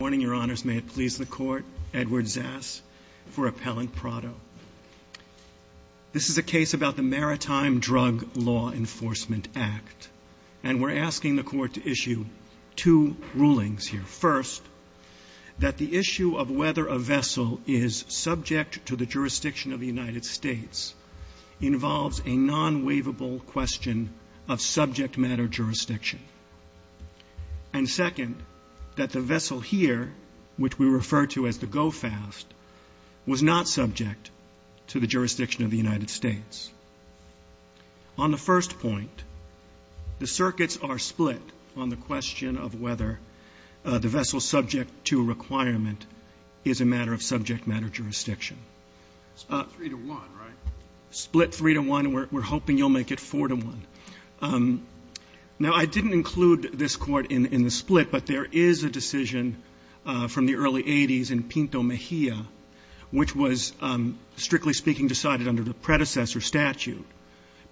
May it please the Court, Edward Zass for Appellant Prado. This is a case about the Maritime Drug Law Enforcement Act, and we're asking the Court to issue two rulings here. First, that the issue of whether a vessel is subject to the jurisdiction of the United States involves a non-waivable question of subject matter jurisdiction. And second, that the vessel here, which we refer to as the go-fast, was not subject to the jurisdiction of the United States. On the first point, the circuits are split on the question of whether the vessel subject to a requirement is a matter of subject matter jurisdiction. Split three to one, right? Split three to one, and we're hoping you'll make it four to one. Now, I didn't include this Court in the split, but there is a decision from the early 80s in Pinto Mejia, which was, strictly speaking, decided under the predecessor statute,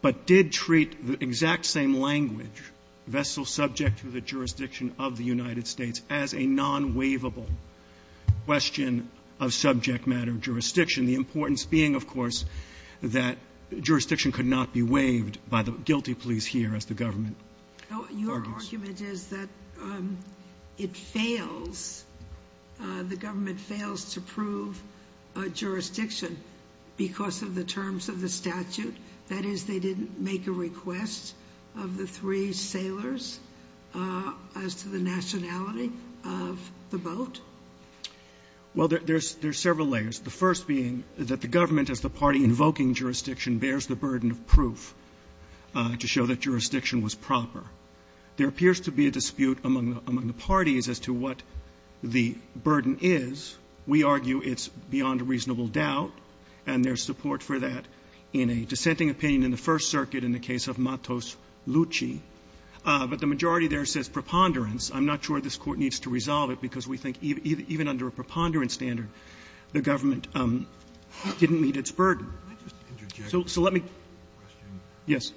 but did treat the exact same language, vessel subject to the jurisdiction of the United States, as a non-waivable question of subject matter jurisdiction, the importance being, of course, that jurisdiction could not be waived by the guilty police here as the government argues. Your argument is that it fails, the government fails to prove a jurisdiction because of the terms of the statute? That is, they didn't make a request of the three sailors as to the nationality of the boat? Well, there's several layers. The first being that the government, as the party invoking jurisdiction, bears the burden of proof to show that jurisdiction was proper. There appears to be a dispute among the parties as to what the burden is. We argue it's beyond reasonable doubt, and there's support for that in a dissenting opinion in the First Circuit in the case of Matos-Lucci. But the majority there says preponderance. I'm not sure this Court needs to resolve it because we think even under a preponderance standard, the government didn't meet its burden. So let me go to the next question. Yes.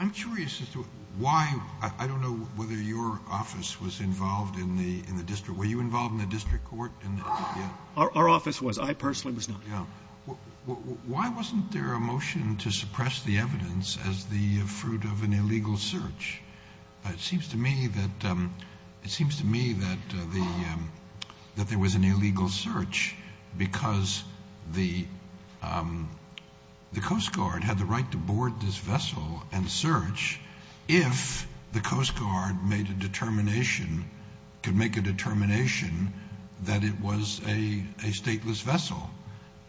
I'm curious as to why, I don't know whether your office was involved in the district. Were you involved in the district court? Our office was. I personally was not. Why wasn't there a motion to suppress the evidence as the fruit of an illegal search? It seems to me that there was an illegal search because the Coast Guard had the right to board this vessel and search if the Coast Guard made a determination, could make a determination, that it was a stateless vessel,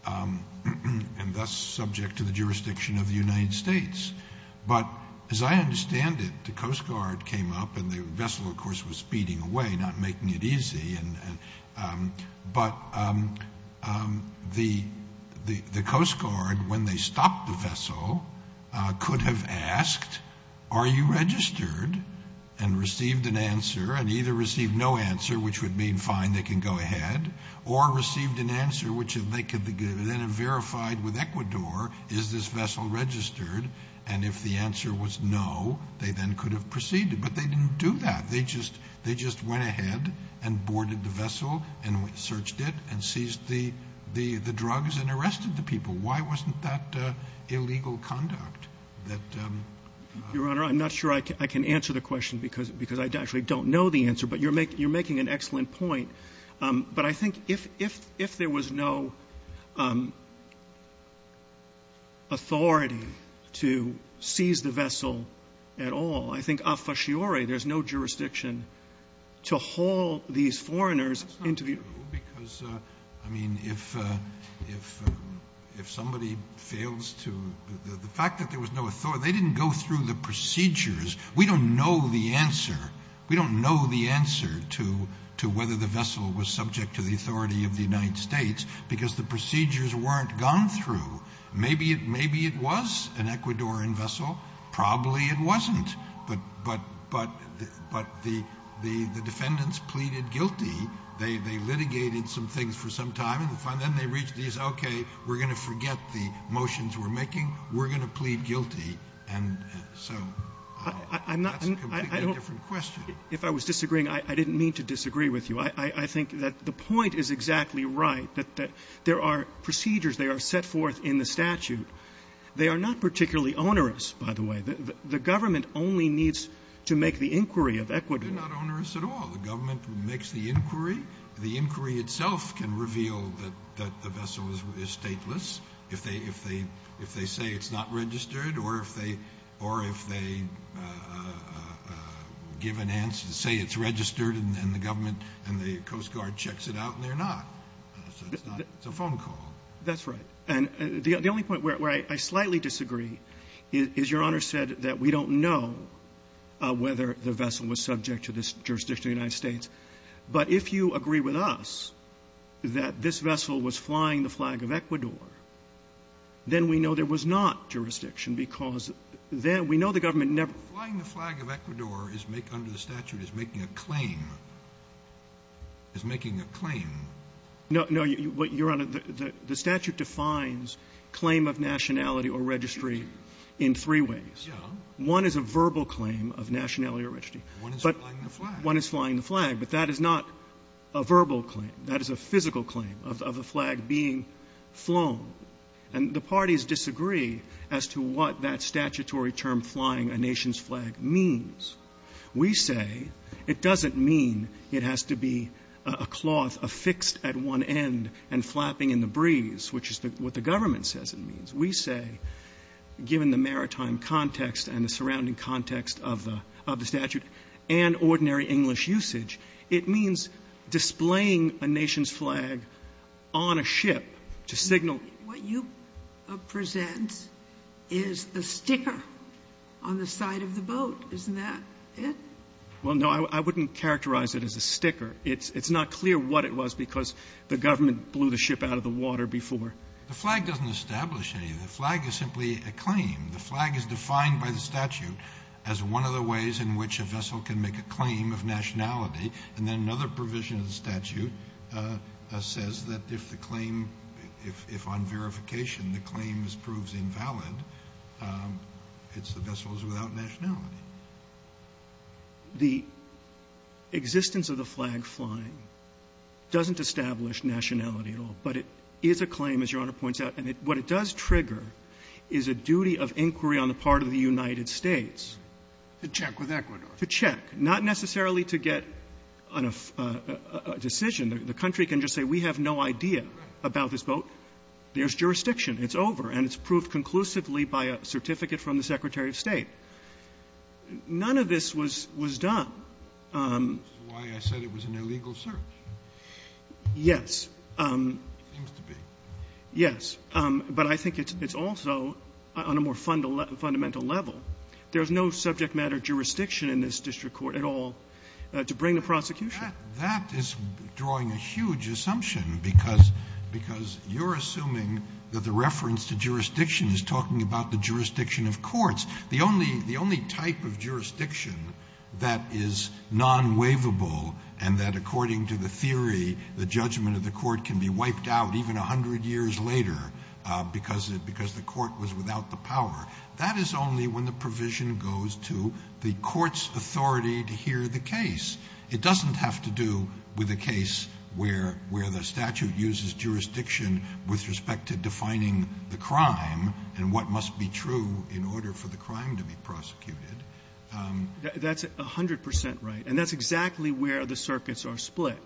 and thus subject to the jurisdiction of the United States. But as I understand it, the Coast Guard came up, and the vessel, of course, was speeding away, not making it easy, but the Coast Guard, when they stopped the vessel, could have asked, are you registered? And received an answer, and either received no answer, which would mean fine, they can go ahead, or received an answer which they could then have verified with Ecuador, is this vessel registered? And if the answer was no, they then could have proceeded. But they didn't do that. They just went ahead and boarded the vessel and searched it and seized the drugs and arrested the people. Why wasn't that illegal conduct? Your Honor, I'm not sure I can answer the question because I actually don't know the answer, but you're making an excellent point. But I think if there was no authority to seize the vessel at all, I think a fasciore, there's no jurisdiction to haul these foreigners into the... That's not true, because, I mean, if somebody fails to, the fact that there was no authority, they didn't go through the procedures. We don't know the answer. To whether the vessel was subject to the authority of the United States, because the procedures weren't gone through. Maybe it was an Ecuadorian vessel. Probably it wasn't. But the defendants pleaded guilty. They litigated some things for some time, and then they reached the, okay, we're going to forget the motions we're making. We're going to plead guilty. And so that's a completely different question. If I was disagreeing, I didn't mean to disagree with you. I think that the point is exactly right, that there are procedures. They are set forth in the statute. They are not particularly onerous, by the way. The government only needs to make the inquiry of Ecuador. They're not onerous at all. The government makes the inquiry. The inquiry itself can reveal that the vessel is stateless if they say it's not registered or if they give an answer to say it's registered and the government and the Coast Guard checks it out, and they're not. It's a phone call. That's right. And the only point where I slightly disagree is Your Honor said that we don't know whether the vessel was subject to this jurisdiction of the United States. But if you agree with us that this vessel was flying the flag of Ecuador, then we know there was not jurisdiction because then we know the government never ---- Flying the flag of Ecuador under the statute is making a claim, is making a claim. No. No, Your Honor. The statute defines claim of nationality or registry in three ways. Yeah. One is a verbal claim of nationality or registry. One is flying the flag. One is flying the flag. But that is not a verbal claim. That is a physical claim of the flag being flown. And the parties disagree as to what that statutory term flying a nation's flag means. We say it doesn't mean it has to be a cloth affixed at one end and flapping in the breeze, which is what the government says it means. We say, given the maritime context and the surrounding context of the statute and ordinary English usage, it means displaying a nation's flag on a ship to signal that what you present is a sticker on the side of the boat. Isn't that it? Well, no, I wouldn't characterize it as a sticker. It's not clear what it was because the government blew the ship out of the water before. The flag doesn't establish anything. The flag is simply a claim. The flag is defined by the statute as one of the ways in which a vessel can make a claim of nationality. And then another provision of the statute says that if the claim, if on verification the claim is proved invalid, it's the vessels without nationality. The existence of the flag flying doesn't establish nationality at all. But it is a claim, as Your Honor points out. And what it does trigger is a duty of inquiry on the part of the United States. To check with Ecuador. To check. Not necessarily to get a decision. The country can just say we have no idea about this boat. There's jurisdiction. It's over. And it's proved conclusively by a certificate from the Secretary of State. None of this was done. That's why I said it was an illegal search. Yes. It seems to be. Yes. But I think it's also on a more fundamental level. There's no subject matter jurisdiction in this district court at all to bring the prosecution. That is drawing a huge assumption because you're assuming that the reference to jurisdiction is talking about the jurisdiction of courts. The only type of jurisdiction that is non-waivable and that according to the theory the judgment of the court can be wiped out even 100 years later because the court was without the power. That is only when the provision goes to the court's authority to hear the case. It doesn't have to do with a case where the statute uses jurisdiction with respect to defining the crime and what must be true in order for the crime to be prosecuted. That's 100 percent right. And that's exactly where the circuits are split.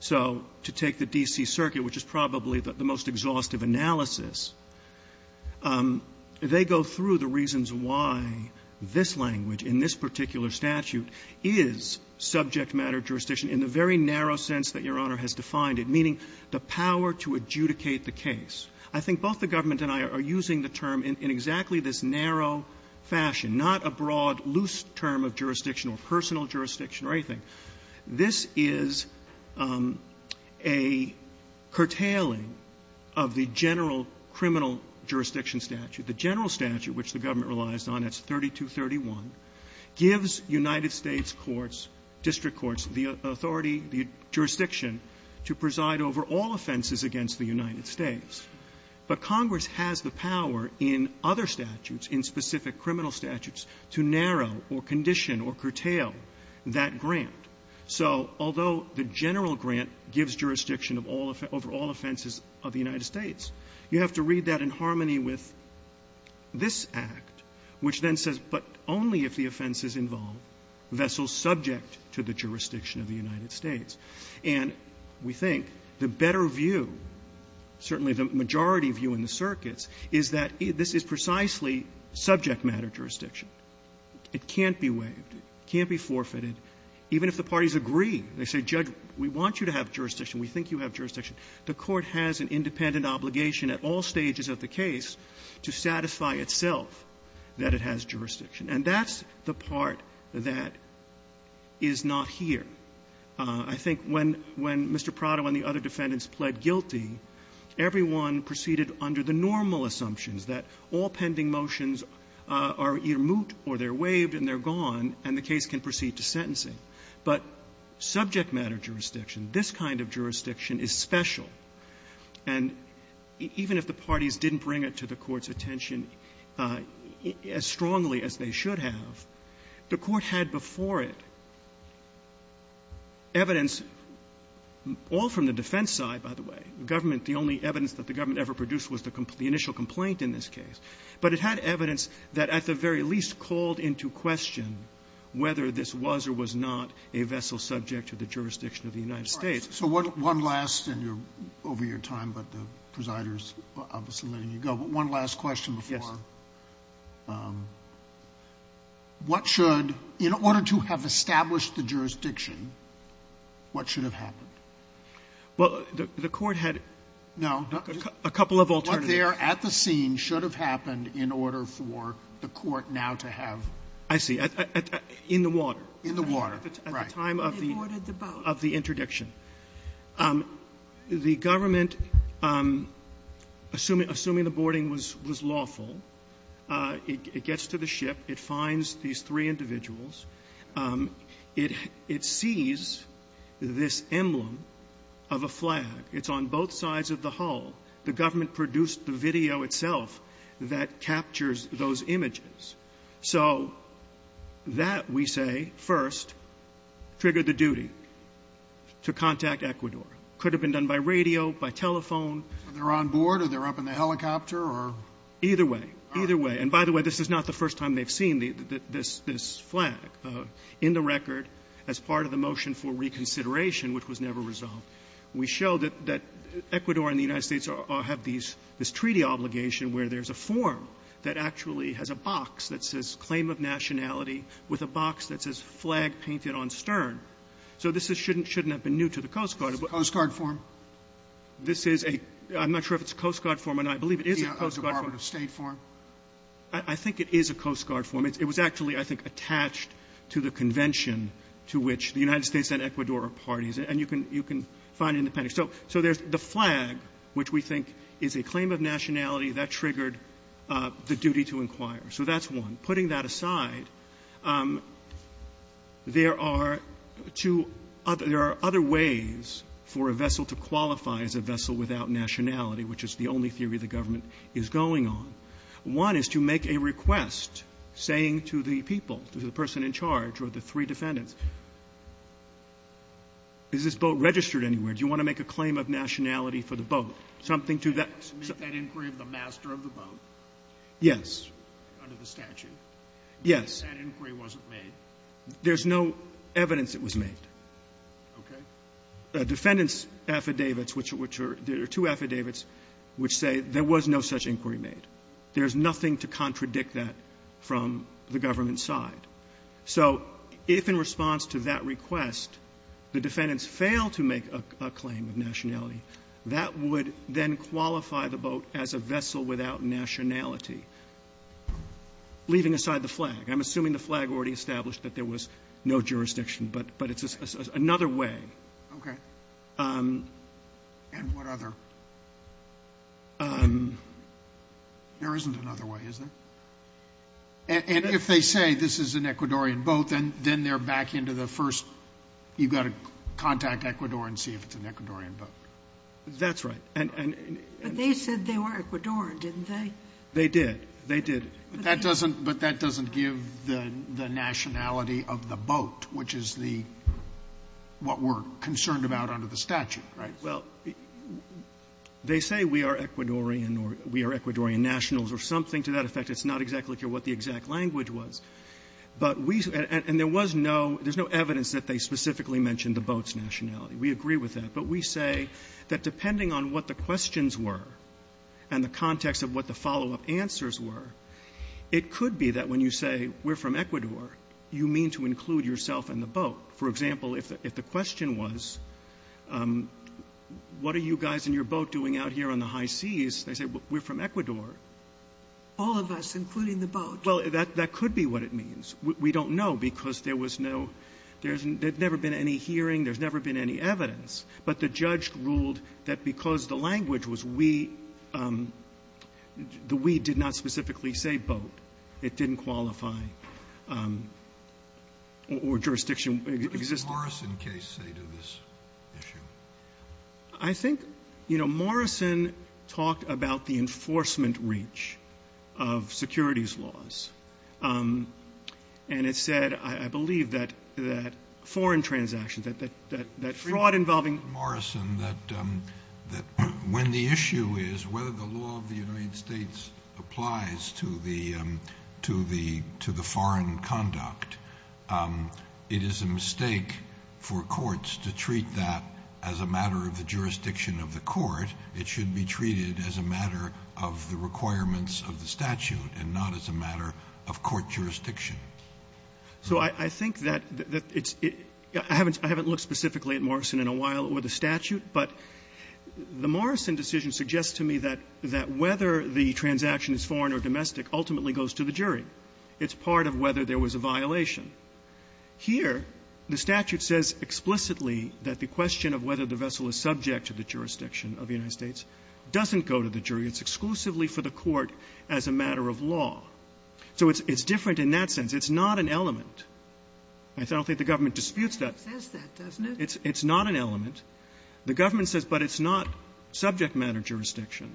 So to take the D.C. Circuit, which is probably the most exhaustive analysis, they go through the reasons why this language in this particular statute is subject matter jurisdiction in the very narrow sense that Your Honor has defined it, meaning the power to adjudicate the case. I think both the government and I are using the term in exactly this narrow fashion, not a broad, loose term of jurisdiction or personal jurisdiction or anything. This is a curtailing of the general criminal jurisdiction statute. The general statute, which the government relies on, that's 3231, gives United States courts, district courts, the authority, the jurisdiction to preside over all offenses against the United States. But Congress has the power in other statutes, in specific criminal statutes, to narrow or condition or curtail that grant. So although the general grant gives jurisdiction over all offenses of the United States, you have to read that in harmony with this Act, which then says, but only if the offense is involved, vessels subject to the jurisdiction of the United States. And we think the better view, certainly the majority view in the circuits, is that this is precisely subject matter jurisdiction. It can't be waived. It can't be forfeited, even if the parties agree. They say, Judge, we want you to have jurisdiction. We think you have jurisdiction. The Court has an independent obligation at all stages of the case to satisfy itself that it has jurisdiction. And that's the part that is not here. I think when Mr. Prado and the other defendants pled guilty, everyone proceeded under the normal assumptions that all pending motions are either moot or they're waived and they're gone, and the case can proceed to sentencing. But subject matter jurisdiction, this kind of jurisdiction is special. And even if the parties didn't bring it to the Court's attention as strongly as they should have, the Court had before it evidence all from the defense side, by the way. The government, the only evidence that the government ever produced was the initial complaint in this case. But it had evidence that at the very least called into question whether this was or was not a vessel subject to the jurisdiction of the United States. Sotomayor, so one last, and you're over your time, but the presider is obviously letting you go, but one last question before I'm done. What should, in order to have established the jurisdiction, what should have happened? Well, the Court had a couple of alternatives. No. What there at the scene should have happened in order for the Court now to have ---- I see. In the water. In the water, right. At the time of the interdiction. The government, assuming the boarding was lawful, it gets to the ship. It finds these three individuals. It sees this emblem of a flag. It's on both sides of the hull. The government produced the video itself that captures those images. So that, we say, first triggered the duty to contact Ecuador. Could have been done by radio, by telephone. They're on board, or they're up in the helicopter, or? Either way. Either way. And by the way, this is not the first time they've seen this flag in the record as part of the motion for reconsideration, which was never resolved. We show that Ecuador and the United States have this treaty obligation where there's a form that actually has a box that says claim of nationality with a box that says flag painted on stern. So this shouldn't have been new to the Coast Guard. It's a Coast Guard form. This is a ---- I'm not sure if it's a Coast Guard form, and I believe it is a Coast Guard form. It's not a state form? I think it is a Coast Guard form. It was actually, I think, attached to the convention to which the United States and Ecuador are parties. And you can find it in the pen. So there's the flag, which we think is a claim of nationality. That triggered the duty to inquire. So that's one. Yes. Yes. There's no evidence it was made. Okay. Defendants' affidavits, which are, which are, which are, which are, which are, which are two affidavits which say there was no such inquiry made. There's nothing to contradict that from the government's side. So if, in response to that request, the defendants fail to make a claim of nationality, that would then qualify the boat as a vessel without nationality, leaving aside the flag. I'm assuming the flag already established that there was no jurisdiction, but it's another way. Okay. And what other? There isn't another way, is there? And if they say this is an Ecuadorian boat, then they're back into the first, you've got to contact Ecuador and see if it's an Ecuadorian boat. That's right. But they said they were Ecuadorian, didn't they? They did. They did. But that doesn't, but that doesn't give the nationality of the boat, which is the, what we're concerned about under the statute, right? Well, they say we are Ecuadorian or we are Ecuadorian nationals or something to that effect. It's not exactly clear what the exact language was. But we, and there was no, there's no evidence that they specifically mentioned the boat's nationality. We agree with that. But we say that depending on what the questions were and the context of what the follow-up answers were, it could be that when you say we're from Ecuador, you mean to include yourself in the boat. For example, if the question was, what are you guys in your boat doing out here on the high seas? They say, we're from Ecuador. All of us, including the boat. Well, that could be what it means. We don't know because there was no, there's never been any hearing. There's never been any evidence. But the judge ruled that because the language was we, the we did not specifically say boat. It didn't qualify or jurisdiction existed. What did the Morrison case say to this issue? I think, you know, Morrison talked about the enforcement reach of securities laws. And it said, I believe that foreign transactions, that fraud involving. I don't think Morrison, that when the issue is whether the law of the United States applies to the foreign conduct, it is a mistake for courts to treat that as a matter of the jurisdiction of the court. It should be treated as a matter of the requirements of the statute and not as a matter of court jurisdiction. So I think that it's — I haven't looked specifically at Morrison in a while or the statute, but the Morrison decision suggests to me that whether the transaction is foreign or domestic ultimately goes to the jury. It's part of whether there was a violation. Here, the statute says explicitly that the question of whether the vessel is subject to the jurisdiction of the United States doesn't go to the jury. It's exclusively for the court as a matter of law. So it's different in that sense. It's not an element. I don't think the government disputes that. It says that, doesn't it? It's not an element. The government says, but it's not subject matter jurisdiction.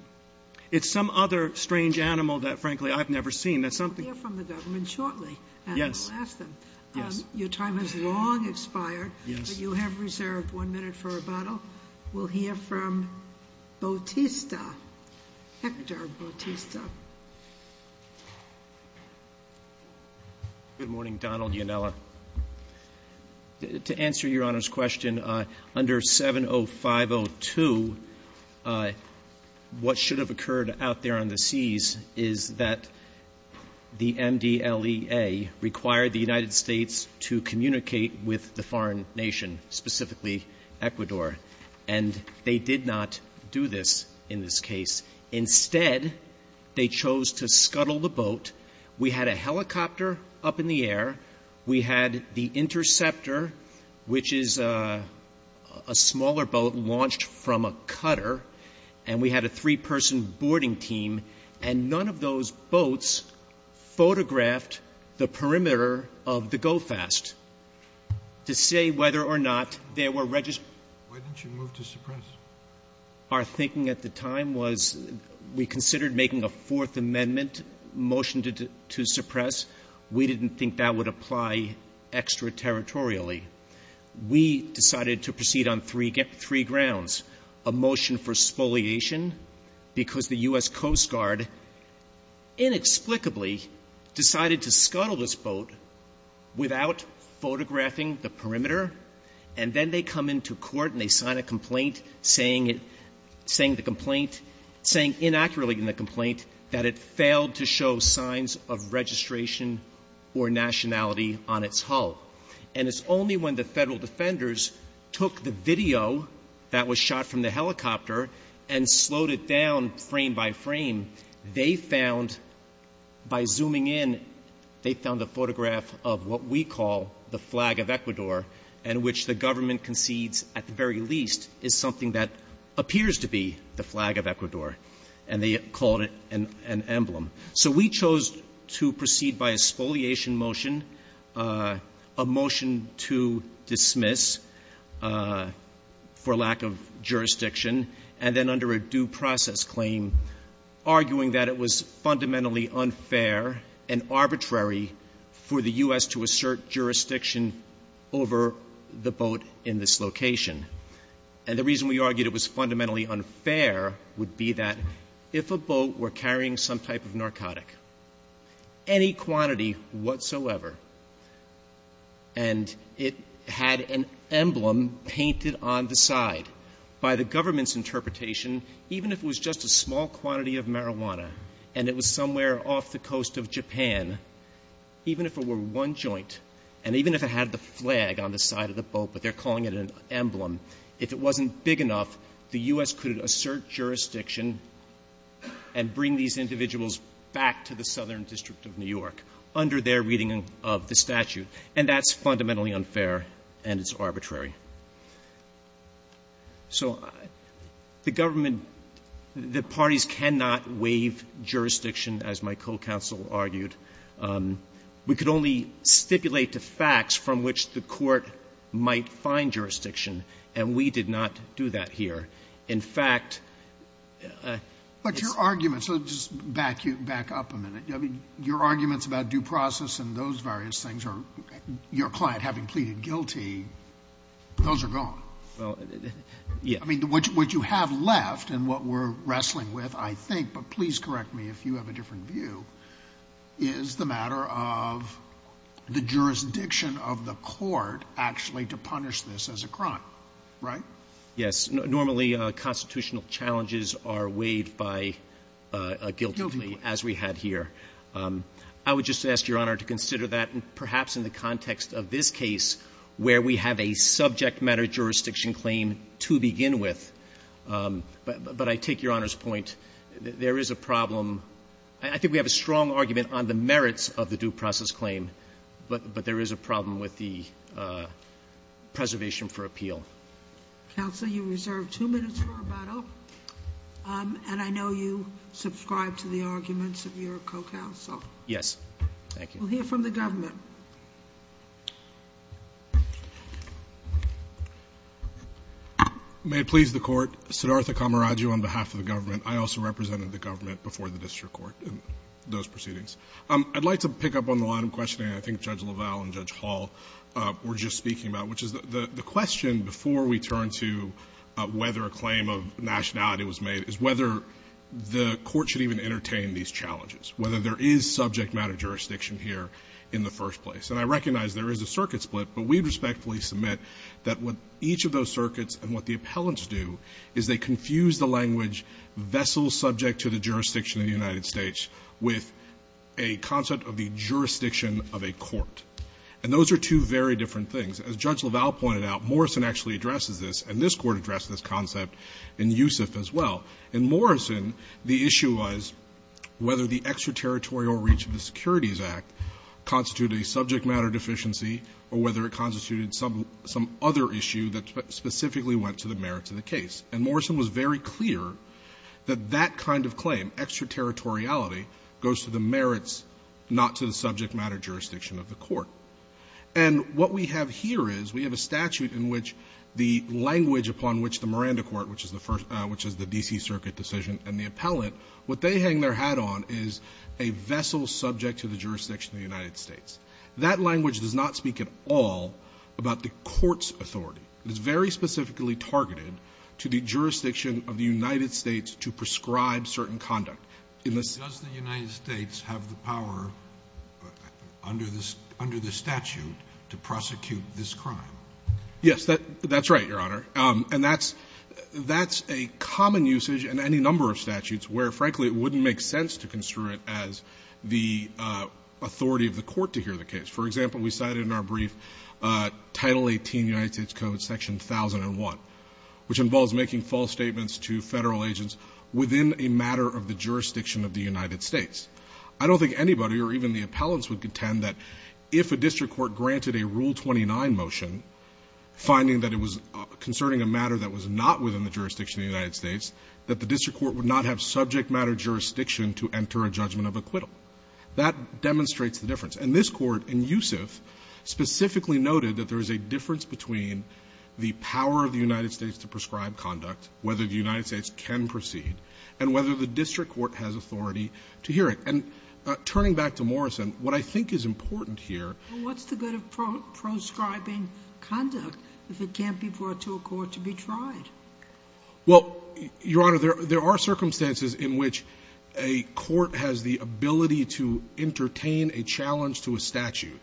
It's some other strange animal that, frankly, I've never seen. That's something — We'll hear from the government shortly. Yes. And we'll ask them. Your time has long expired, but you have reserved one minute for rebuttal. We'll hear from Bautista, Hector Bautista. Good morning, Donald Ionella. To answer Your Honor's question, under 70502, what should have occurred out there on the seas is that the MDLEA required the United States to communicate with the foreign nation, specifically Ecuador, and they did not do this in this case. Instead, they chose to scuttle the boat. We had a helicopter up in the air. We had the interceptor, which is a smaller boat launched from a cutter, and we had a three-person boarding team, and none of those boats photographed the perimeter of the GO-FAST. To say whether or not there were — Why didn't you move to suppress? Our thinking at the time was we considered making a Fourth Amendment motion to suppress. We didn't think that would apply extraterritorially. We decided to proceed on three grounds, a motion for spoliation because the U.S. Coast Guard inexplicably decided to scuttle this boat without photographing the saying the complaint — saying inaccurately in the complaint that it failed to show signs of registration or nationality on its hull. And it's only when the federal defenders took the video that was shot from the helicopter and slowed it down frame by frame, they found — by zooming in, they found a photograph of what we call the flag of Ecuador, and which the government concedes, at the very least, is something that appears to be the flag of Ecuador, and they called it an emblem. So we chose to proceed by a spoliation motion, a motion to dismiss for lack of jurisdiction, and then under a due process claim, arguing that it was fundamentally unfair and arbitrary for the U.S. to assert jurisdiction over the boat in this location. And the reason we argued it was fundamentally unfair would be that if a boat were carrying some type of narcotic, any quantity whatsoever, and it had an emblem painted on the side, by the government's interpretation, even if it was just a small quantity of marijuana, and it was somewhere off the coast of Japan, even if it were one joint, and even if it had the flag on the side of the boat, but they're calling it an emblem, if it wasn't big enough, the U.S. could assert jurisdiction and bring these individuals back to the southern district of New York under their reading of the statute. And that's fundamentally unfair, and it's arbitrary. So the government, the parties cannot waive jurisdiction, as my co-counsel argued. We could only stipulate the facts from which the court might find jurisdiction, and we did not do that here. In fact, it's — Sotomayor But your arguments — let me just back you back up a minute. I mean, your arguments about due process and those various things are — your client having pleaded guilty, those are gone. Well, yeah. I mean, what you have left and what we're wrestling with, I think, but please correct me if you have a different view, is the matter of the jurisdiction of the court actually to punish this as a crime, right? Yes. Normally, constitutional challenges are weighed by a guilty plea, as we had here. Guilty plea. I would just ask Your Honor to consider that perhaps in the context of this case where we have a subject matter jurisdiction claim to begin with. But I take Your Honor's point. There is a problem. I think we have a strong argument on the merits of the due process claim, but there is a problem with the preservation for appeal. Counsel, you reserve two minutes for rebuttal. And I know you subscribe to the arguments of your co-counsel. Yes. Thank you. We'll hear from the government. May it please the Court. Siddhartha Kamaraju on behalf of the government. I also represented the government before the district court in those proceedings. I'd like to pick up on the line of questioning I think Judge LaValle and Judge Hall were just speaking about, which is the question before we turn to whether a claim of nationality was made is whether the court should even entertain these challenges, whether there is subject matter jurisdiction here in the first place. And I recognize there is a circuit split, but we'd respectfully submit that what each of those circuits and what the appellants do is they confuse the language vessel subject to the jurisdiction of the United States with a concept of the jurisdiction of a court. And those are two very different things. As Judge LaValle pointed out, Morrison actually addresses this, and this Court addressed this concept in Yusuf as well. In Morrison, the issue was whether the extraterritorial reach of the Securities Act constituted a subject matter deficiency or whether it constituted some other issue that specifically went to the merits of the case. And Morrison was very clear that that kind of claim, extraterritoriality, goes to the merits, not to the subject matter jurisdiction of the court. And what we have here is we have a statute in which the language upon which the Miranda Court, which is the first – which is the D.C. Circuit decision and the appellant, what they hang their hat on is a vessel subject to the jurisdiction of the United States. That language does not speak at all about the court's authority. It is very specifically targeted to the jurisdiction of the United States to prescribe certain conduct. Does the United States have the power under the statute to prosecute this crime? Yes, that's right, Your Honor. And that's a common usage in any number of statutes where, frankly, it wouldn't make sense to construe it as the authority of the court to hear the case. For example, we cited in our brief Title 18 United States Code Section 1001, which involves making false statements to Federal agents within a matter of the jurisdiction of the United States. I don't think anybody or even the appellants would contend that if a district court granted a Rule 29 motion finding that it was concerning a matter that was not within the jurisdiction of the United States, that the district court would not have subject matter jurisdiction to enter a judgment of acquittal. That demonstrates the difference. And this Court, in Youssef, specifically noted that there is a difference between the power of the United States to prescribe conduct, whether the United States can proceed, and whether the district court has authority to hear it. And turning back to Morrison, what I think is important here Well, what's the good of proscribing conduct if it can't be brought to a court to be tried? Well, Your Honor, there are circumstances in which a court has the ability to entertain a challenge to a statute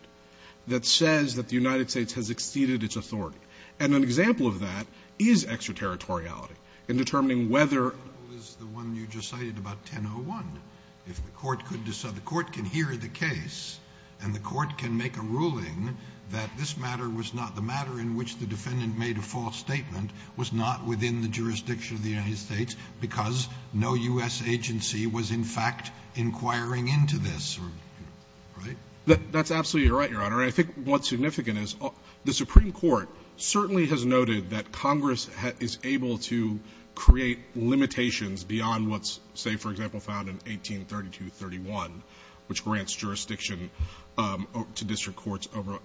that says that the United States has exceeded its authority. And an example of that is extraterritoriality in determining whether The one you just cited about 1001, if the court could decide, the court can hear the case and the court can make a ruling that this matter was not the matter in which the defendant made a false statement was not within the jurisdiction of the United in fact inquiring into this, right? That's absolutely right, Your Honor. And I think what's significant is the Supreme Court certainly has noted that Congress is able to create limitations beyond what's, say, for example, found in 183231, which grants jurisdiction to district courts over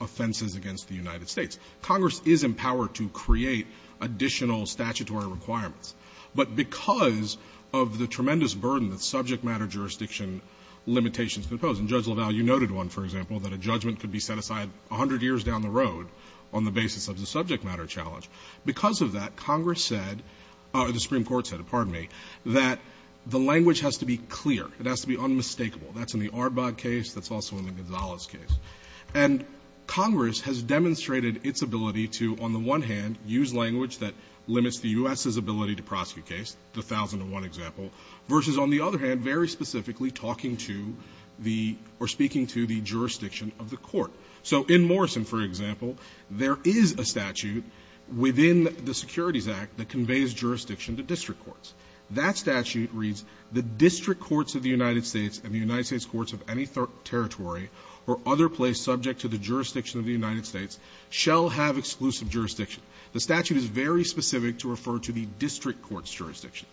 offenses against the United States. Congress is empowered to create additional statutory requirements. But because of the tremendous burden that subject matter jurisdiction limitations can pose, and Judge LaValle, you noted one, for example, that a judgment could be set aside 100 years down the road on the basis of the subject matter challenge. Because of that, Congress said, or the Supreme Court said, pardon me, that the language has to be clear. It has to be unmistakable. That's in the Arbog case. That's also in the Gonzalez case. And Congress has demonstrated its ability to, on the one hand, use language that limits the U.S.'s ability to prosecute case, the 1001 example, versus, on the other hand, very specifically talking to the or speaking to the jurisdiction of the court. So in Morrison, for example, there is a statute within the Securities Act that conveys jurisdiction to district courts. That statute reads, the district courts of the United States and the United States courts of any territory or other place subject to the jurisdiction of the United States shall have exclusive jurisdiction. The statute is very specific to refer to the district court's jurisdiction.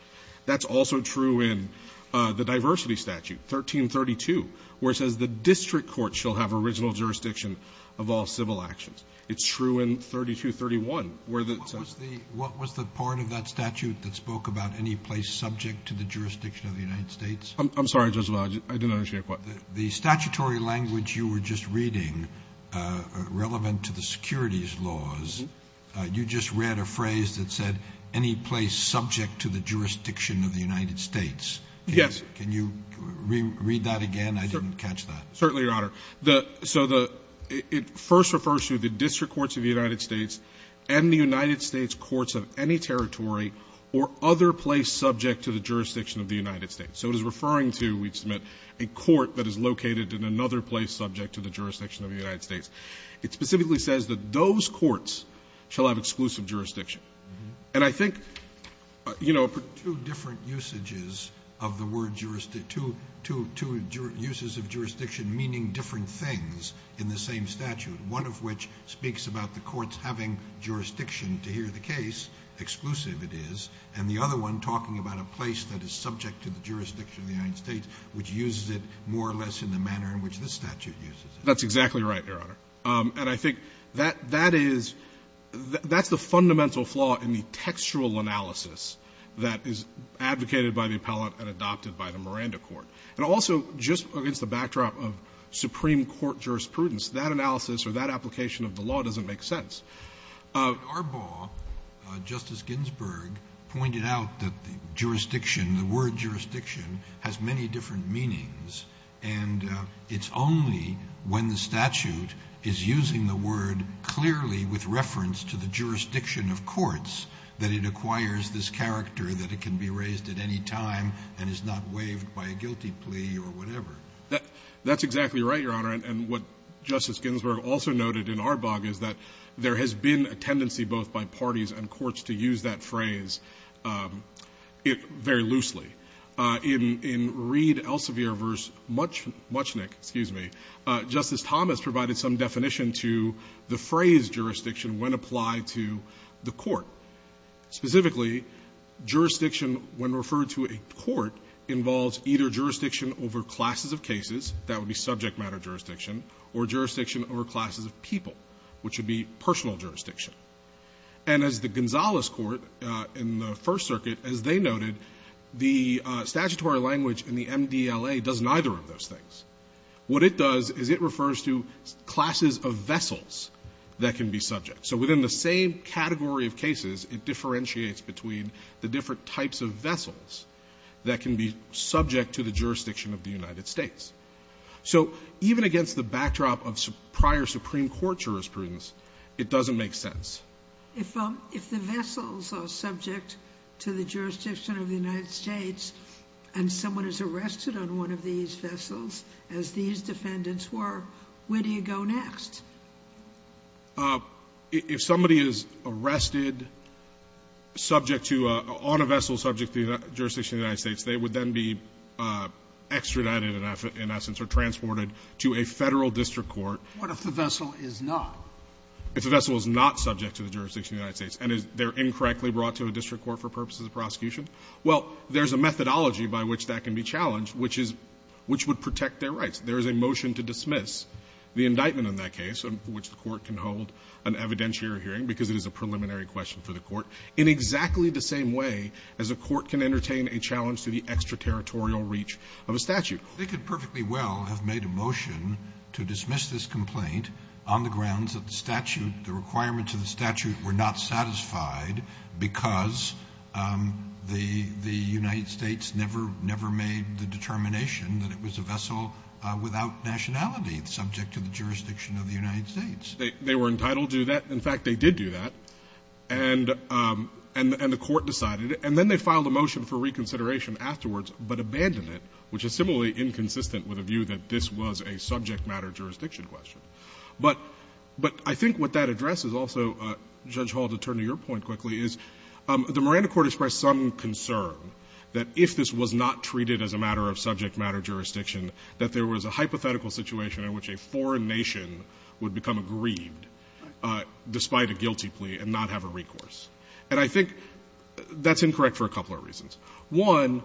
That's also true in the diversity statute, 1332, where it says, the district court shall have original jurisdiction of all civil actions. It's true in 3231, where the ---- Roberts. What was the part of that statute that spoke about any place subject to the jurisdiction of the United States? I'm sorry, Justice Alito. I didn't understand your question. The statutory language you were just reading, relevant to the securities laws, you just read a phrase that said, any place subject to the jurisdiction of the United States. Yes. Can you read that again? I didn't catch that. Certainly, Your Honor. So the ---- it first refers to the district courts of the United States and the United States courts of any territory or other place subject to the jurisdiction of the United States. So it is referring to, we submit, a court that is located in another place subject to the jurisdiction of the United States. It specifically says that those courts shall have exclusive jurisdiction. And I think, you know, two different usages of the word jurisdiction, two uses of jurisdiction meaning different things in the same statute, one of which speaks about the courts having jurisdiction to hear the case, exclusive it is, and the other one talking about a place that is subject to the jurisdiction of the United States, which uses it more or less in the manner in which this statute uses it. That's exactly right, Your Honor. And I think that is the fundamental flaw in the textual analysis that is advocated by the appellate and adopted by the Miranda court. And also, just against the backdrop of Supreme Court jurisprudence, that analysis or that application of the law doesn't make sense. Arbaugh, Justice Ginsburg, pointed out that the jurisdiction, the word jurisdiction has many different meanings, and it's only when the statute is using the word clearly with reference to the jurisdiction of courts that it acquires this character that it can be raised at any time and is not waived by a guilty plea or whatever. That's exactly right, Your Honor. And what Justice Ginsburg also noted in Arbaugh is that there has been a tendency both by parties and courts to use that phrase very loosely. In Reed Elsevier v. Muchnick, Justice Thomas provided some definition to the phrase jurisdiction when applied to the court. Specifically, jurisdiction when referred to a court involves either jurisdiction over classes of cases, that would be subject matter jurisdiction, or jurisdiction over classes of people, which would be personal jurisdiction. And as the Gonzales court in the First Circuit, as they noted, the statutory language in the MDLA does neither of those things. What it does is it refers to classes of vessels that can be subject. So within the same category of cases, it differentiates between the different types of vessels that can be subject to the jurisdiction of the United States. So even against the backdrop of prior Supreme Court jurisprudence, it doesn't make sense. If the vessels are subject to the jurisdiction of the United States and someone is arrested on one of these vessels, as these defendants were, where do you go next? If somebody is arrested subject to a — on a vessel subject to the jurisdiction of the United States, they would then be extradited, in essence, or transported to a Federal district court. What if the vessel is not? If the vessel is not subject to the jurisdiction of the United States, and they're incorrectly brought to a district court for purposes of prosecution, well, there's a methodology by which that can be challenged, which is — which would protect their rights. There is a motion to dismiss the indictment in that case, which the court can hold an evidentiary hearing because it is a preliminary question for the court, in exactly the same way as a court can entertain a challenge to the extraterritorial reach of a statute. They could perfectly well have made a motion to dismiss this complaint on the grounds that the statute — the requirements of the statute were not satisfied because the — the United States never — never made the determination that it was a vessel without nationality subject to the jurisdiction of the United States. They were entitled to that. In fact, they did do that. And the court decided — and then they filed a motion for reconsideration afterwards, but abandoned it, which is similarly inconsistent with a view that this was a subject matter jurisdiction question. But I think what that addresses also, Judge Hall, to turn to your point quickly, is the Miranda Court expressed some concern that if this was not treated as a matter of subject matter jurisdiction, that there was a hypothetical situation in which a foreign nation would become aggrieved despite a guilty plea and not have a recourse. And I think that's incorrect for a couple of reasons. One,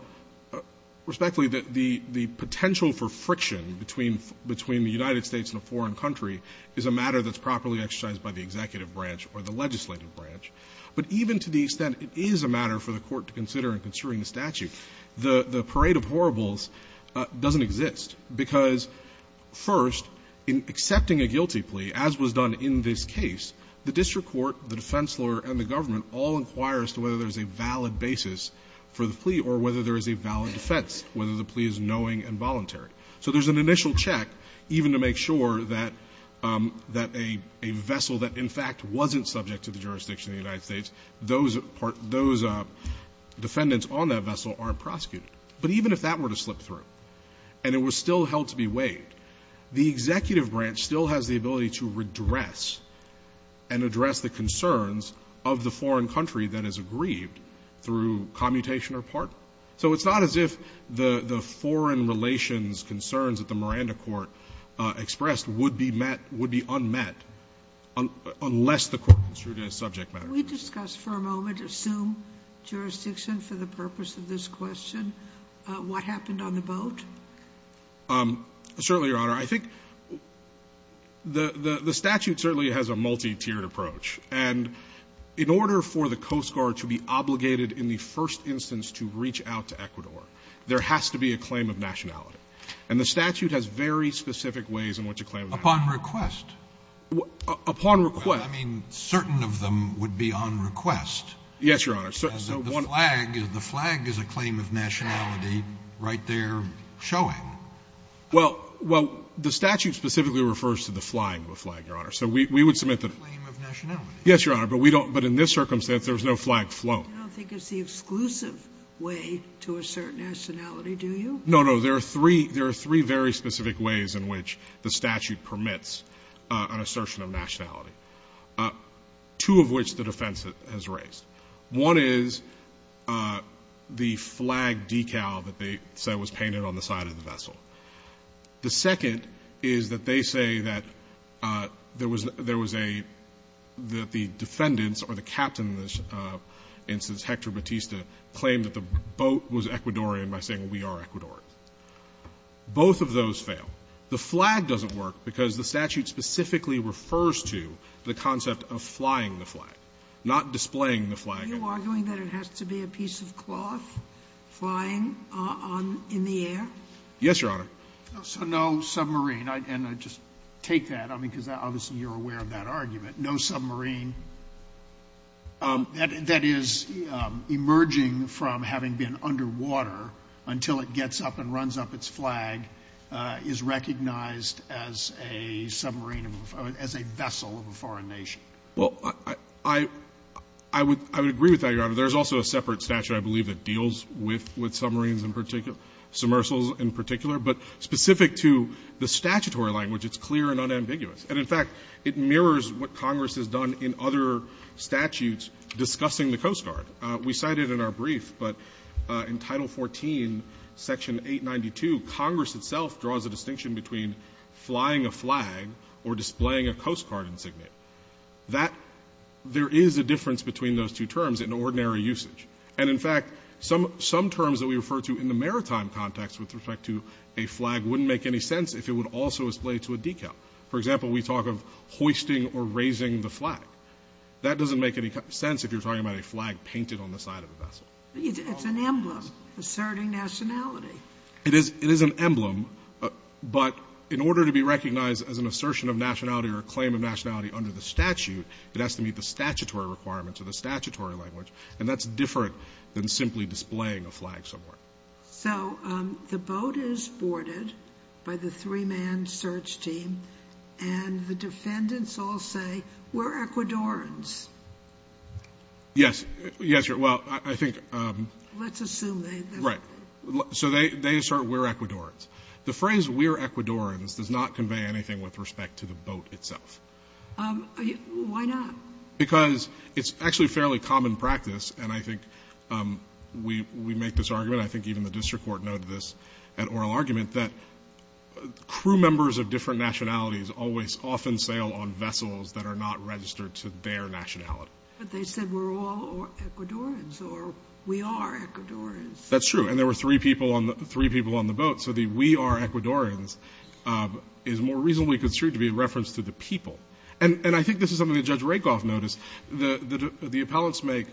respectfully, the — the potential for friction between — between the United States and a foreign country is a matter that's properly exercised by the executive branch or the legislative branch, but even to the extent it is a matter for the court to consider in construing the statute, the — the parade of horribles doesn't exist because, first, in accepting a guilty plea, as was done in this case, the district court, the defense lawyer, and the government all inquire as to whether there is a valid basis for the plea or whether there is a valid defense, whether the plea is knowing and voluntary. So there's an initial check even to make sure that — that a — a vessel that in the United States, those — those defendants on that vessel aren't prosecuted. But even if that were to slip through and it was still held to be waived, the executive branch still has the ability to redress and address the concerns of the foreign country that is aggrieved through commutation or pardon. So it's not as if the — the foreign relations concerns at the Miranda Court expressed would be met — would be unmet unless the court construed in a subject matter. We discussed for a moment, assume jurisdiction for the purpose of this question, what happened on the boat? Certainly, Your Honor. I think the — the statute certainly has a multi-tiered approach. And in order for the Coast Guard to be obligated in the first instance to reach out to Ecuador, there has to be a claim of nationality. And the statute has very specific ways in which a claim of nationality — Upon request. Upon request. I mean, certain of them would be on request. Yes, Your Honor. So the flag — the flag is a claim of nationality right there showing. Well — well, the statute specifically refers to the flying of a flag, Your Honor. So we — we would submit that — A claim of nationality. Yes, Your Honor. But we don't — but in this circumstance, there's no flag flown. I don't think it's the exclusive way to assert nationality, do you? No, no. There are three — there are three very specific ways in which the statute permits an assertion of nationality, two of which the defense has raised. One is the flag decal that they say was painted on the side of the vessel. The second is that they say that there was a — that the defendants or the captain, in this instance, Hector Batista, claim that the boat was Ecuadorian by saying, well, we are Ecuadorian. Both of those fail. The flag doesn't work because the statute specifically refers to the concept of flying the flag, not displaying the flag. Are you arguing that it has to be a piece of cloth flying on — in the air? Yes, Your Honor. So no submarine. And I just take that, I mean, because obviously you're aware of that argument. No submarine. That is, emerging from having been underwater until it gets up and runs up its flag is recognized as a submarine — as a vessel of a foreign nation. Well, I would agree with that, Your Honor. There is also a separate statute, I believe, that deals with submarines in particular — submersibles in particular. But specific to the statutory language, it's clear and unambiguous. And, in fact, it mirrors what Congress has done in other statutes discussing the Coast Guard. We cited in our brief, but in Title 14, Section 892, Congress itself draws a distinction between flying a flag or displaying a Coast Guard insignia. That — there is a difference between those two terms in ordinary usage. And, in fact, some terms that we refer to in the maritime context with respect to a flag wouldn't make any sense if it would also display to a decal. For example, we talk of hoisting or raising the flag. That doesn't make any sense if you're talking about a flag painted on the side of a vessel. It's an emblem asserting nationality. It is an emblem, but in order to be recognized as an assertion of nationality or a claim of nationality under the statute, it has to meet the statutory requirements of the statutory language. And that's different than simply displaying a flag somewhere. So the boat is boarded by the three-man search team, and the defendants all say, We're Ecuadorians. Yes. Yes, Your Honor. Well, I think — Let's assume they — Right. So they assert, We're Ecuadorians. The phrase, We're Ecuadorians, does not convey anything with respect to the boat itself. Why not? Because it's actually fairly common practice, and I think we make this argument. I think even the district court noted this at oral argument, that crew members of different nationalities always often sail on vessels that are not registered to their nationality. But they said, We're all Ecuadorians, or We are Ecuadorians. That's true. And there were three people on the boat. So the We are Ecuadorians is more reasonably construed to be a reference to the people. And I think this is something that Judge Rakoff noticed, the appellants make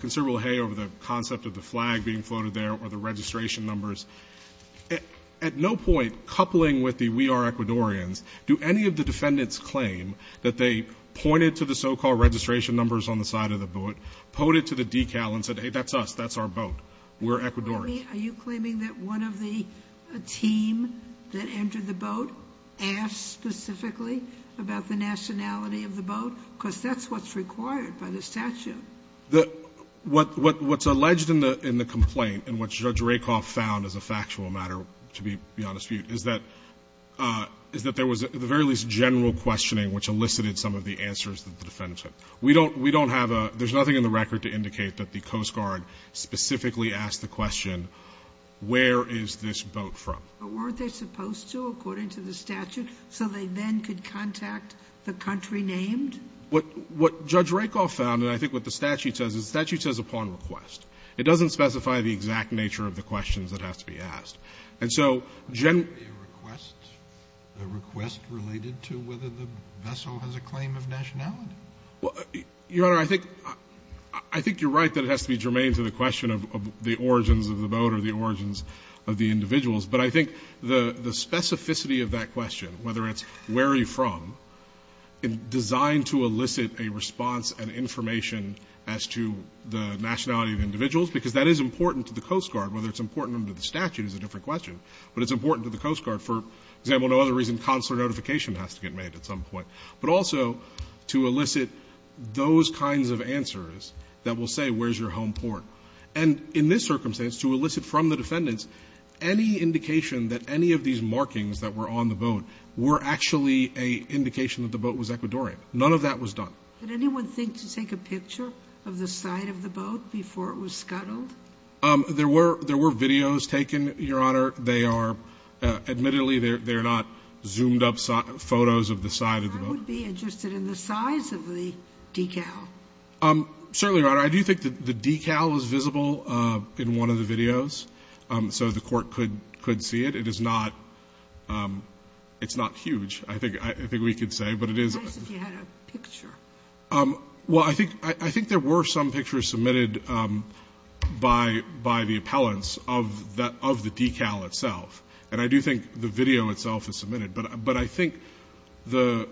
considerable hay over the concept of the flag being floated there or the registration numbers. At no point, coupling with the We are Ecuadorians, do any of the defendants claim that they pointed to the so-called registration numbers on the side of the boat, pointed to the decal, and said, Hey, that's us. That's our boat. We're Ecuadorians. Are you claiming that one of the team that entered the boat asked specifically about the nationality of the boat? Because that's what's required by the statute. What's alleged in the complaint and what Judge Rakoff found as a factual matter, to be beyond dispute, is that there was at the very least general questioning which elicited some of the answers that the defendants had. We don't have a — there's nothing in the record to indicate that the Coast Guard specifically asked the question, Where is this boat from? But weren't they supposed to, according to the statute, so they then could contact the country named? What Judge Rakoff found, and I think what the statute says, the statute says upon request. It doesn't specify the exact nature of the questions that have to be asked. And so generally — Would that be a request? A request related to whether the vessel has a claim of nationality? Your Honor, I think you're right that it has to be germane to the question of the origins of the boat or the origins of the individuals. But I think the specificity of that question, whether it's where are you from, is designed to elicit a response and information as to the nationality of individuals, because that is important to the Coast Guard. Whether it's important under the statute is a different question. But it's important to the Coast Guard, for example, no other reason consular notification has to get made at some point, but also to elicit those kinds of answers that will say where's your home port. And in this circumstance, to elicit from the defendants any indication that any of these markings that were on the boat were actually an indication that the boat was Ecuadorian. None of that was done. Did anyone think to take a picture of the side of the boat before it was scuttled? There were videos taken, Your Honor. They are — admittedly, they're not zoomed-up photos of the side of the boat. I would be interested in the size of the decal. Certainly, Your Honor. I do think that the decal is visible in one of the videos. So the Court could see it. It is not — it's not huge, I think we could say, but it is — It would be nice if you had a picture. Well, I think there were some pictures submitted by the appellants of the decal itself. And I do think the video itself is submitted. But I think the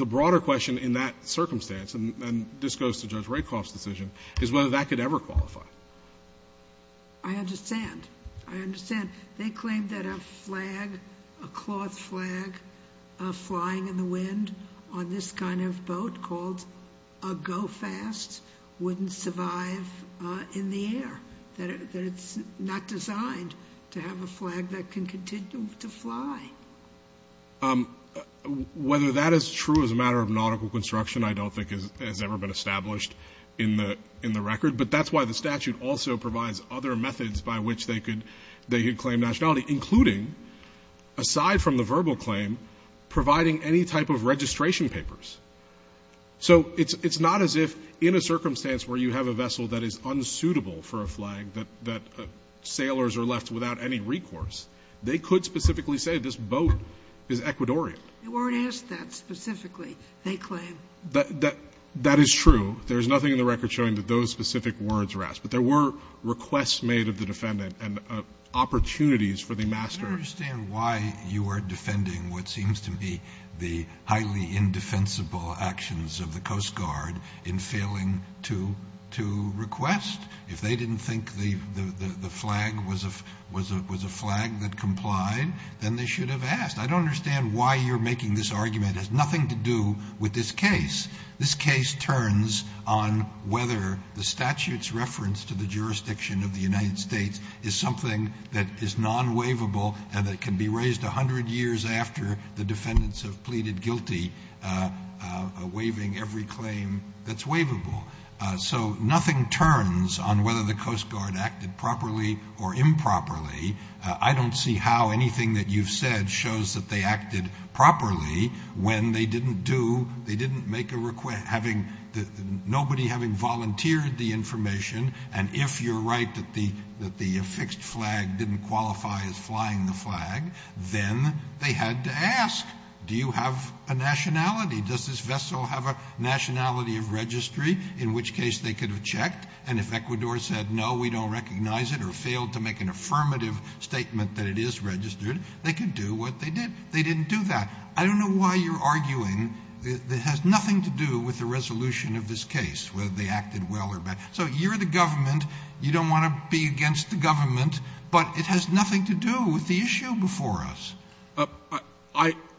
broader question in that circumstance, and this goes to Judge Rakoff's decision, is whether that could ever qualify. I understand. I understand. They claim that a flag, a cloth flag, flying in the wind on this kind of boat called a go-fast wouldn't survive in the air. That it's not designed to have a flag that can continue to fly. Whether that is true as a matter of nautical construction, I don't think, has ever been established in the record. But that's why the statute also provides other methods by which they could claim nationality, including, aside from the verbal claim, providing any type of registration papers. So it's not as if in a circumstance where you have a vessel that is unsuitable for a flag that sailors are left without any recourse, they could specifically say this boat is Ecuadorian. They weren't asked that specifically, they claim. That is true. There is nothing in the record showing that those specific words were asked. But there were requests made of the defendant and opportunities for the master. I don't understand why you are defending what seems to me the highly indefensible actions of the Coast Guard in failing to request. If they didn't think the flag was a flag that complied, then they should have asked. I don't understand why you're making this argument. It has nothing to do with this case. This case turns on whether the statute's reference to the jurisdiction of the United States is something that is non-waivable and that can be raised 100 years after the defendants have pleaded guilty, waiving every claim that's waivable. So nothing turns on whether the Coast Guard acted properly or improperly. I don't see how anything that you've said shows that they acted properly when they didn't do, they didn't make a request, nobody having volunteered the information. And if you're right that the affixed flag didn't qualify as flying the flag, then they had to ask. Do you have a nationality? Does this vessel have a nationality of registry? In which case they could have checked. And if Ecuador said, no, we don't recognize it or failed to make an affirmative statement that it is registered, they could do what they did. They didn't do that. I don't know why you're arguing that it has nothing to do with the resolution of this case, whether they acted well or bad. So you're the government, you don't want to be against the government, but it has nothing to do with the issue before us.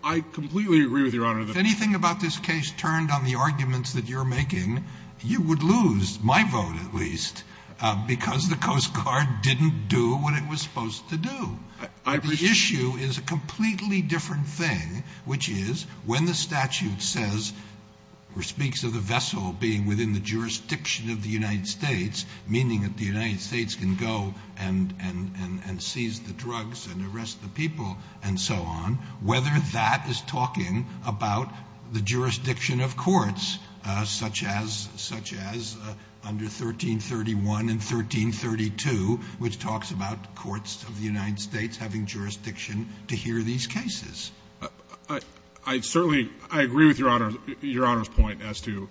I completely agree with Your Honor. If anything about this case turned on the arguments that you're making, you would lose, my vote at least, because the Coast Guard didn't do what it was supposed to do. The issue is a completely different thing, which is when the statute says, or speaks of the vessel being within the jurisdiction of the United States, meaning that the United States can go and seize the drugs and arrest the people and so on, whether that is talking about the jurisdiction of courts, such as under 1331 and 1332, which talks about courts of the United States having jurisdiction to hear these cases. I certainly agree with Your Honor's point as to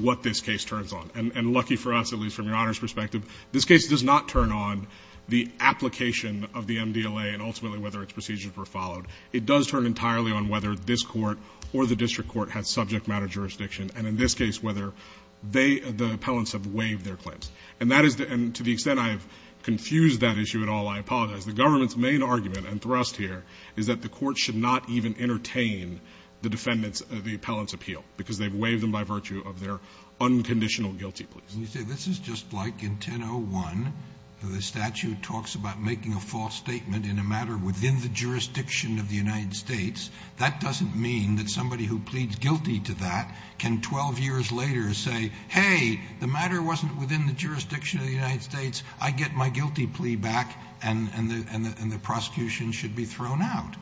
what this case turns on. And lucky for us, at least from Your Honor's perspective, this case does not turn on the application of the MDLA and ultimately whether its procedures were followed. It does turn entirely on whether this court or the district court has subject matter jurisdiction, and in this case whether they, the appellants, have waived their claims. And that is the end. To the extent I have confused that issue at all, I apologize. The government's main argument and thrust here is that the court should not even entertain the defendant's, the appellant's appeal, because they've waived them by virtue of their unconditional guilty pleas. And you say this is just like in 1001, where the statute talks about making a false statement in a matter within the jurisdiction of the United States. That doesn't mean that somebody who pleads guilty to that can 12 years later say, hey, the matter wasn't within the jurisdiction of the United States. I get my guilty plea back and the prosecution should be thrown out.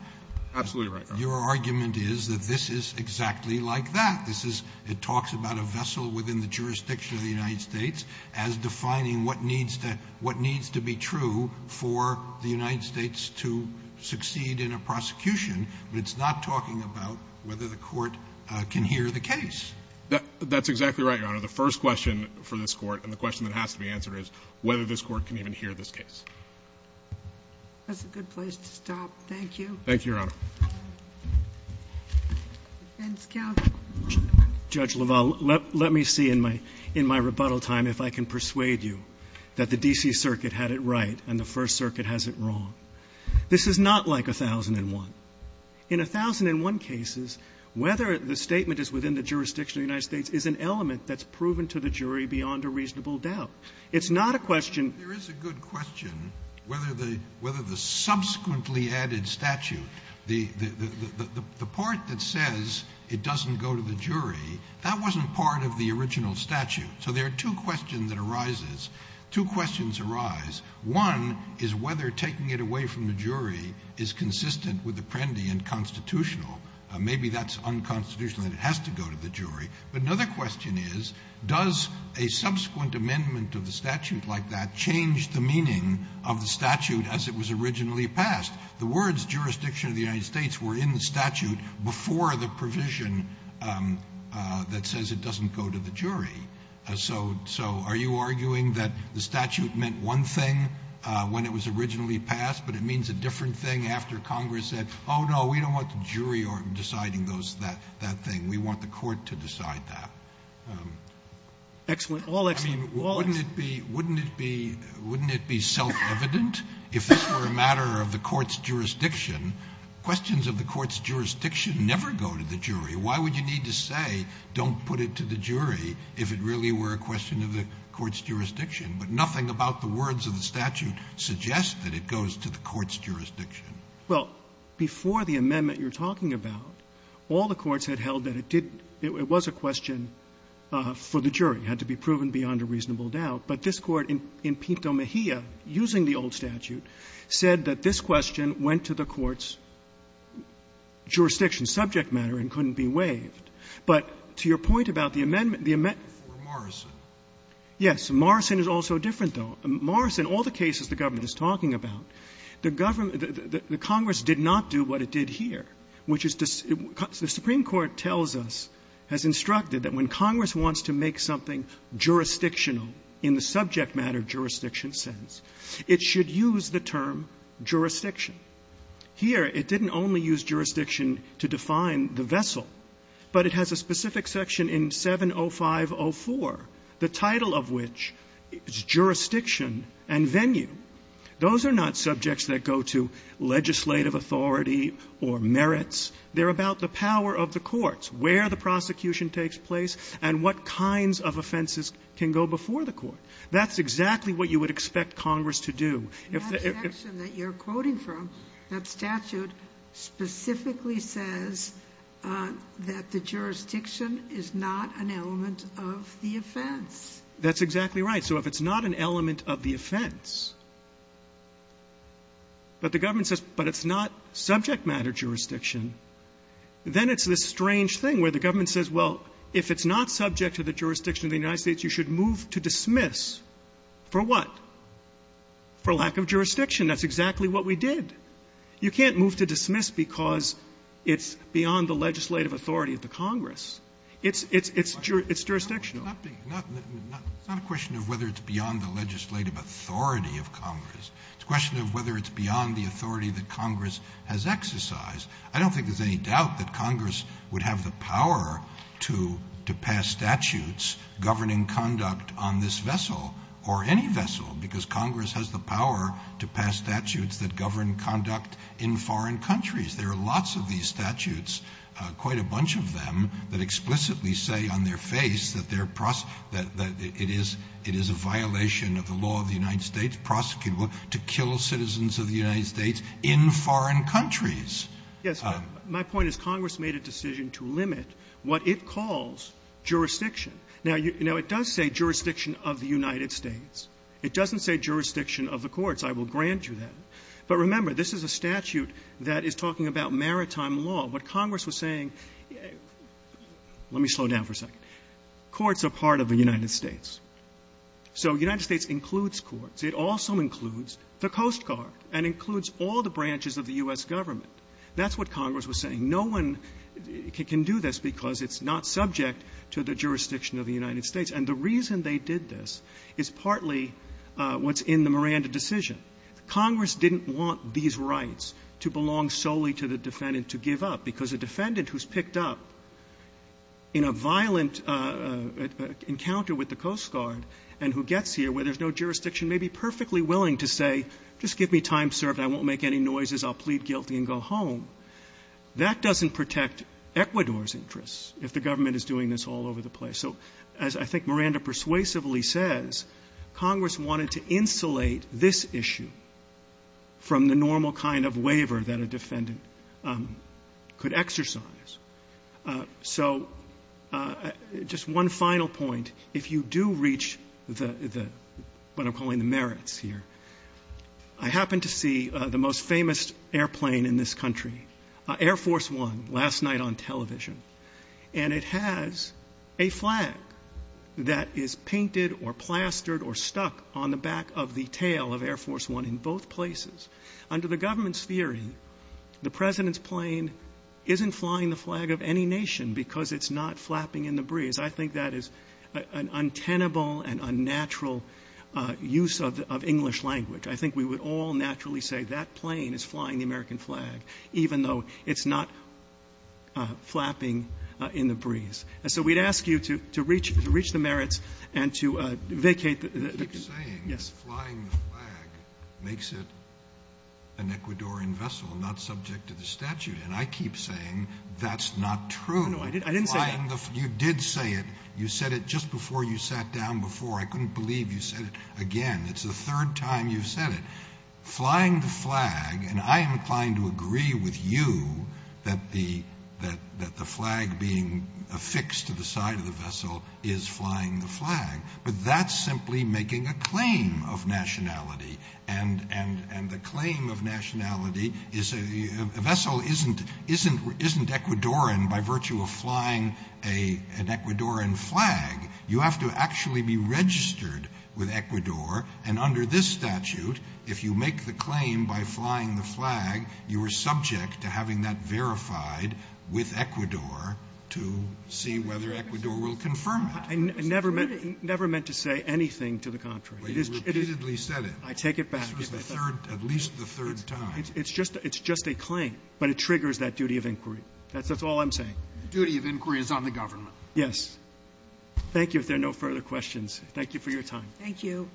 Absolutely right, Your Honor. Your argument is that this is exactly like that. This is, it talks about a vessel within the jurisdiction of the United States as defining what needs to be true for the United States to succeed in a prosecution, but it's not talking about whether the court can hear the case. That's exactly right, Your Honor. So the first question for this court, and the question that has to be answered, is whether this court can even hear this case. That's a good place to stop. Thank you. Thank you, Your Honor. Defense counsel. Judge LaValle, let me see in my rebuttal time if I can persuade you that the D.C. Circuit had it right and the First Circuit has it wrong. This is not like 1001. In 1001 cases, whether the statement is within the jurisdiction of the United States is an element that's proven to the jury beyond a reasonable doubt. It's not a question. There is a good question whether the subsequently added statute, the part that says it doesn't go to the jury, that wasn't part of the original statute. So there are two questions that arise. Two questions arise. One is whether taking it away from the jury is consistent with Apprendi and constitutional. Maybe that's unconstitutional and it has to go to the jury. But another question is, does a subsequent amendment of the statute like that change the meaning of the statute as it was originally passed? The words jurisdiction of the United States were in the statute before the provision that says it doesn't go to the jury. So are you arguing that the statute meant one thing when it was originally passed, but it means a different thing after Congress said, oh, no, we don't want the jury deciding that thing. We want the court to decide that. I mean, wouldn't it be self-evident? If this were a matter of the court's jurisdiction, questions of the court's jurisdiction never go to the jury. Why would you need to say don't put it to the jury if it really were a question of the court's jurisdiction? But nothing about the words of the statute suggests that it goes to the court's jurisdiction. Well, before the amendment you're talking about, all the courts had held that it didn't – it was a question for the jury. It had to be proven beyond a reasonable doubt. But this Court in Pinto Mejia, using the old statute, said that this question went to the court's jurisdiction, subject matter, and couldn't be waived. But to your point about the amendment, the amendment – For Morrison. Yes. Morrison is also different, though. Morrison, all the cases the government is talking about, the government – the Congress did not do what it did here, which is – the Supreme Court tells us, has instructed that when Congress wants to make something jurisdictional in the subject matter jurisdiction sense, it should use the term jurisdiction. Here, it didn't only use jurisdiction to define the vessel, but it has a specific section in 70504, the title of which is jurisdiction and venue. Those are not subjects that go to legislative authority or merits. They're about the power of the courts, where the prosecution takes place, and what kinds of offenses can go before the court. That's exactly what you would expect Congress to do. If the – That section that you're quoting from, that statute, specifically says that the jurisdiction is not an element of the offense. That's exactly right. So if it's not an element of the offense, but the government says, but it's not subject matter jurisdiction, then it's this strange thing where the government says, well, if it's not subject to the jurisdiction of the United States, you should move to dismiss. For what? For lack of jurisdiction. That's exactly what we did. You can't move to dismiss because it's beyond the legislative authority of the Congress. It's – it's jurisdictional. It's not a question of whether it's beyond the legislative authority of Congress. It's a question of whether it's beyond the authority that Congress has exercised. I don't think there's any doubt that Congress would have the power to pass statutes governing conduct on this vessel or any vessel, because Congress has the power to pass statutes that govern conduct in foreign countries. There are lots of these statutes, quite a bunch of them, that explicitly say on their face that they're – that it is – it is a violation of the law of the United States, prosecutable to kill citizens of the United States in foreign countries. Yes, but my point is Congress made a decision to limit what it calls jurisdiction. Now, you know, it does say jurisdiction of the United States. It doesn't say jurisdiction of the courts. I will grant you that. But remember, this is a statute that is talking about maritime law. What Congress was saying – let me slow down for a second. Courts are part of the United States. So the United States includes courts. It also includes the Coast Guard and includes all the branches of the U.S. government. That's what Congress was saying. No one can do this because it's not subject to the jurisdiction of the United States. And the reason they did this is partly what's in the Miranda decision. Congress didn't want these rights to belong solely to the defendant to give up, because a defendant who's picked up in a violent encounter with the Coast Guard and who gets here where there's no jurisdiction may be perfectly willing to say, just give me time served, I won't make any noises, I'll plead guilty and go home. That doesn't protect Ecuador's interests if the government is doing this all over the place. So as I think Miranda persuasively says, Congress wanted to insulate this issue from the normal kind of waiver that a defendant could exercise. So just one final point. If you do reach what I'm calling the merits here, I happen to see the most famous airplane in this country, Air Force One, last night on television. And it has a flag that is painted or plastered or stuck on the back of the tail of Air Force One in both places. Under the government's theory, the President's plane isn't flying the flag of any nation because it's not flapping in the breeze. I think that is an untenable and unnatural use of English language. I think we would all naturally say that plane is flying the American flag, even though it's not flapping in the breeze. So we'd ask you to reach the merits and to vacate the ---- You keep saying flying the flag makes it an Ecuadorian vessel, not subject to the statute. And I keep saying that's not true. No, I didn't say that. You did say it. You said it just before you sat down before. I couldn't believe you said it again. It's the third time you've said it. And I am inclined to agree with you that the flag being affixed to the side of the vessel is flying the flag. But that's simply making a claim of nationality. And the claim of nationality is a vessel isn't Ecuadorian by virtue of flying an Ecuadorian flag. You have to actually be registered with Ecuador. And under this statute, if you make the claim by flying the flag, you are subject to having that verified with Ecuador to see whether Ecuador will confirm it. I never meant to say anything to the contrary. But you repeatedly said it. I take it back. This was the third, at least the third time. It's just a claim, but it triggers that duty of inquiry. That's all I'm saying. The duty of inquiry is on the government. Yes. Thank you. If there are no further questions, thank you for your time. Thank you.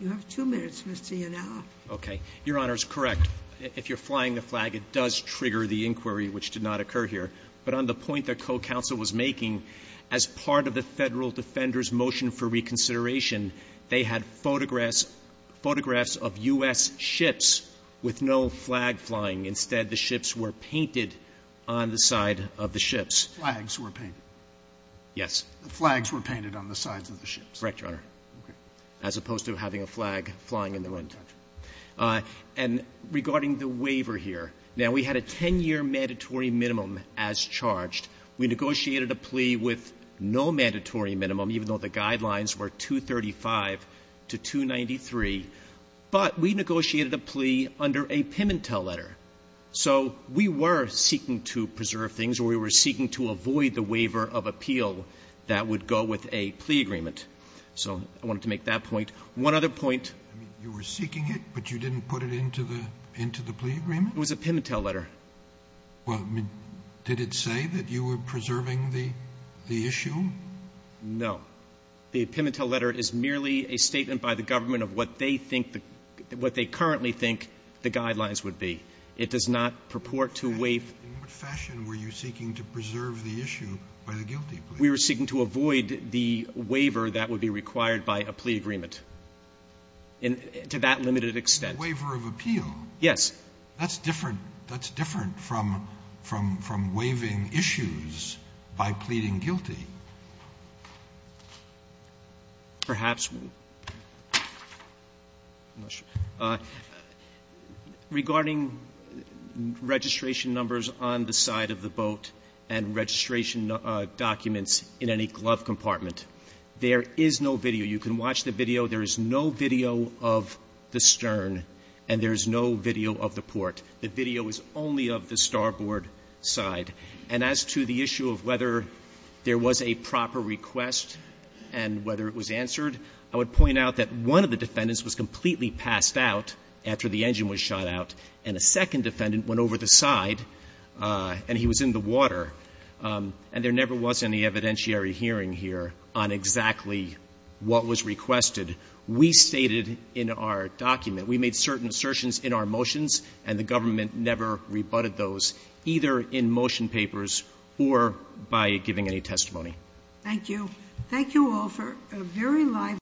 You have two minutes, Mr. Yanawa. Okay. Your Honor, it's correct. If you're flying the flag, it does trigger the inquiry, which did not occur here. But on the point that co-counsel was making, as part of the Federal Defender's motion for reconsideration, they had photographs of U.S. ships with no flag flying. Instead, the ships were painted on the side of the ships. Flags were painted. Yes. Flags were painted on the sides of the ships. Correct, Your Honor. Okay. As opposed to having a flag flying in the wind. Gotcha. And regarding the waiver here, now, we had a 10-year mandatory minimum as charged. We negotiated a plea with no mandatory minimum, even though the guidelines were 235 to 293. But we negotiated a plea under a Pimentel letter. So we were seeking to preserve things, or we were seeking to avoid the waiver of appeal that would go with a plea agreement. So I wanted to make that point. One other point. You were seeking it, but you didn't put it into the plea agreement? It was a Pimentel letter. Well, did it say that you were preserving the issue? No. The Pimentel letter is merely a statement by the government of what they think the ‑‑ what they currently think the guidelines would be. It does not purport to waive ‑‑ In what fashion were you seeking to preserve the issue by the guilty plea? We were seeking to avoid the waiver that would be required by a plea agreement to that limited extent. A waiver of appeal? Yes. That's different. That's different from waiving issues by pleading guilty. Perhaps. I'm not sure. Regarding registration numbers on the side of the boat and registration documents in any glove compartment, there is no video. You can watch the video. There is no video of the stern and there is no video of the port. The video is only of the starboard side. And as to the issue of whether there was a proper request and whether it was answered, I would point out that one of the defendants was completely passed out after the engine was shot out and a second defendant went over the side and he was in the water. And there never was any evidentiary hearing here on exactly what was requested. We stated in our document, we made certain assertions in our motions and the government never rebutted those, either in motion papers or by giving any testimony. Thank you. Thank you all for a very lively debate.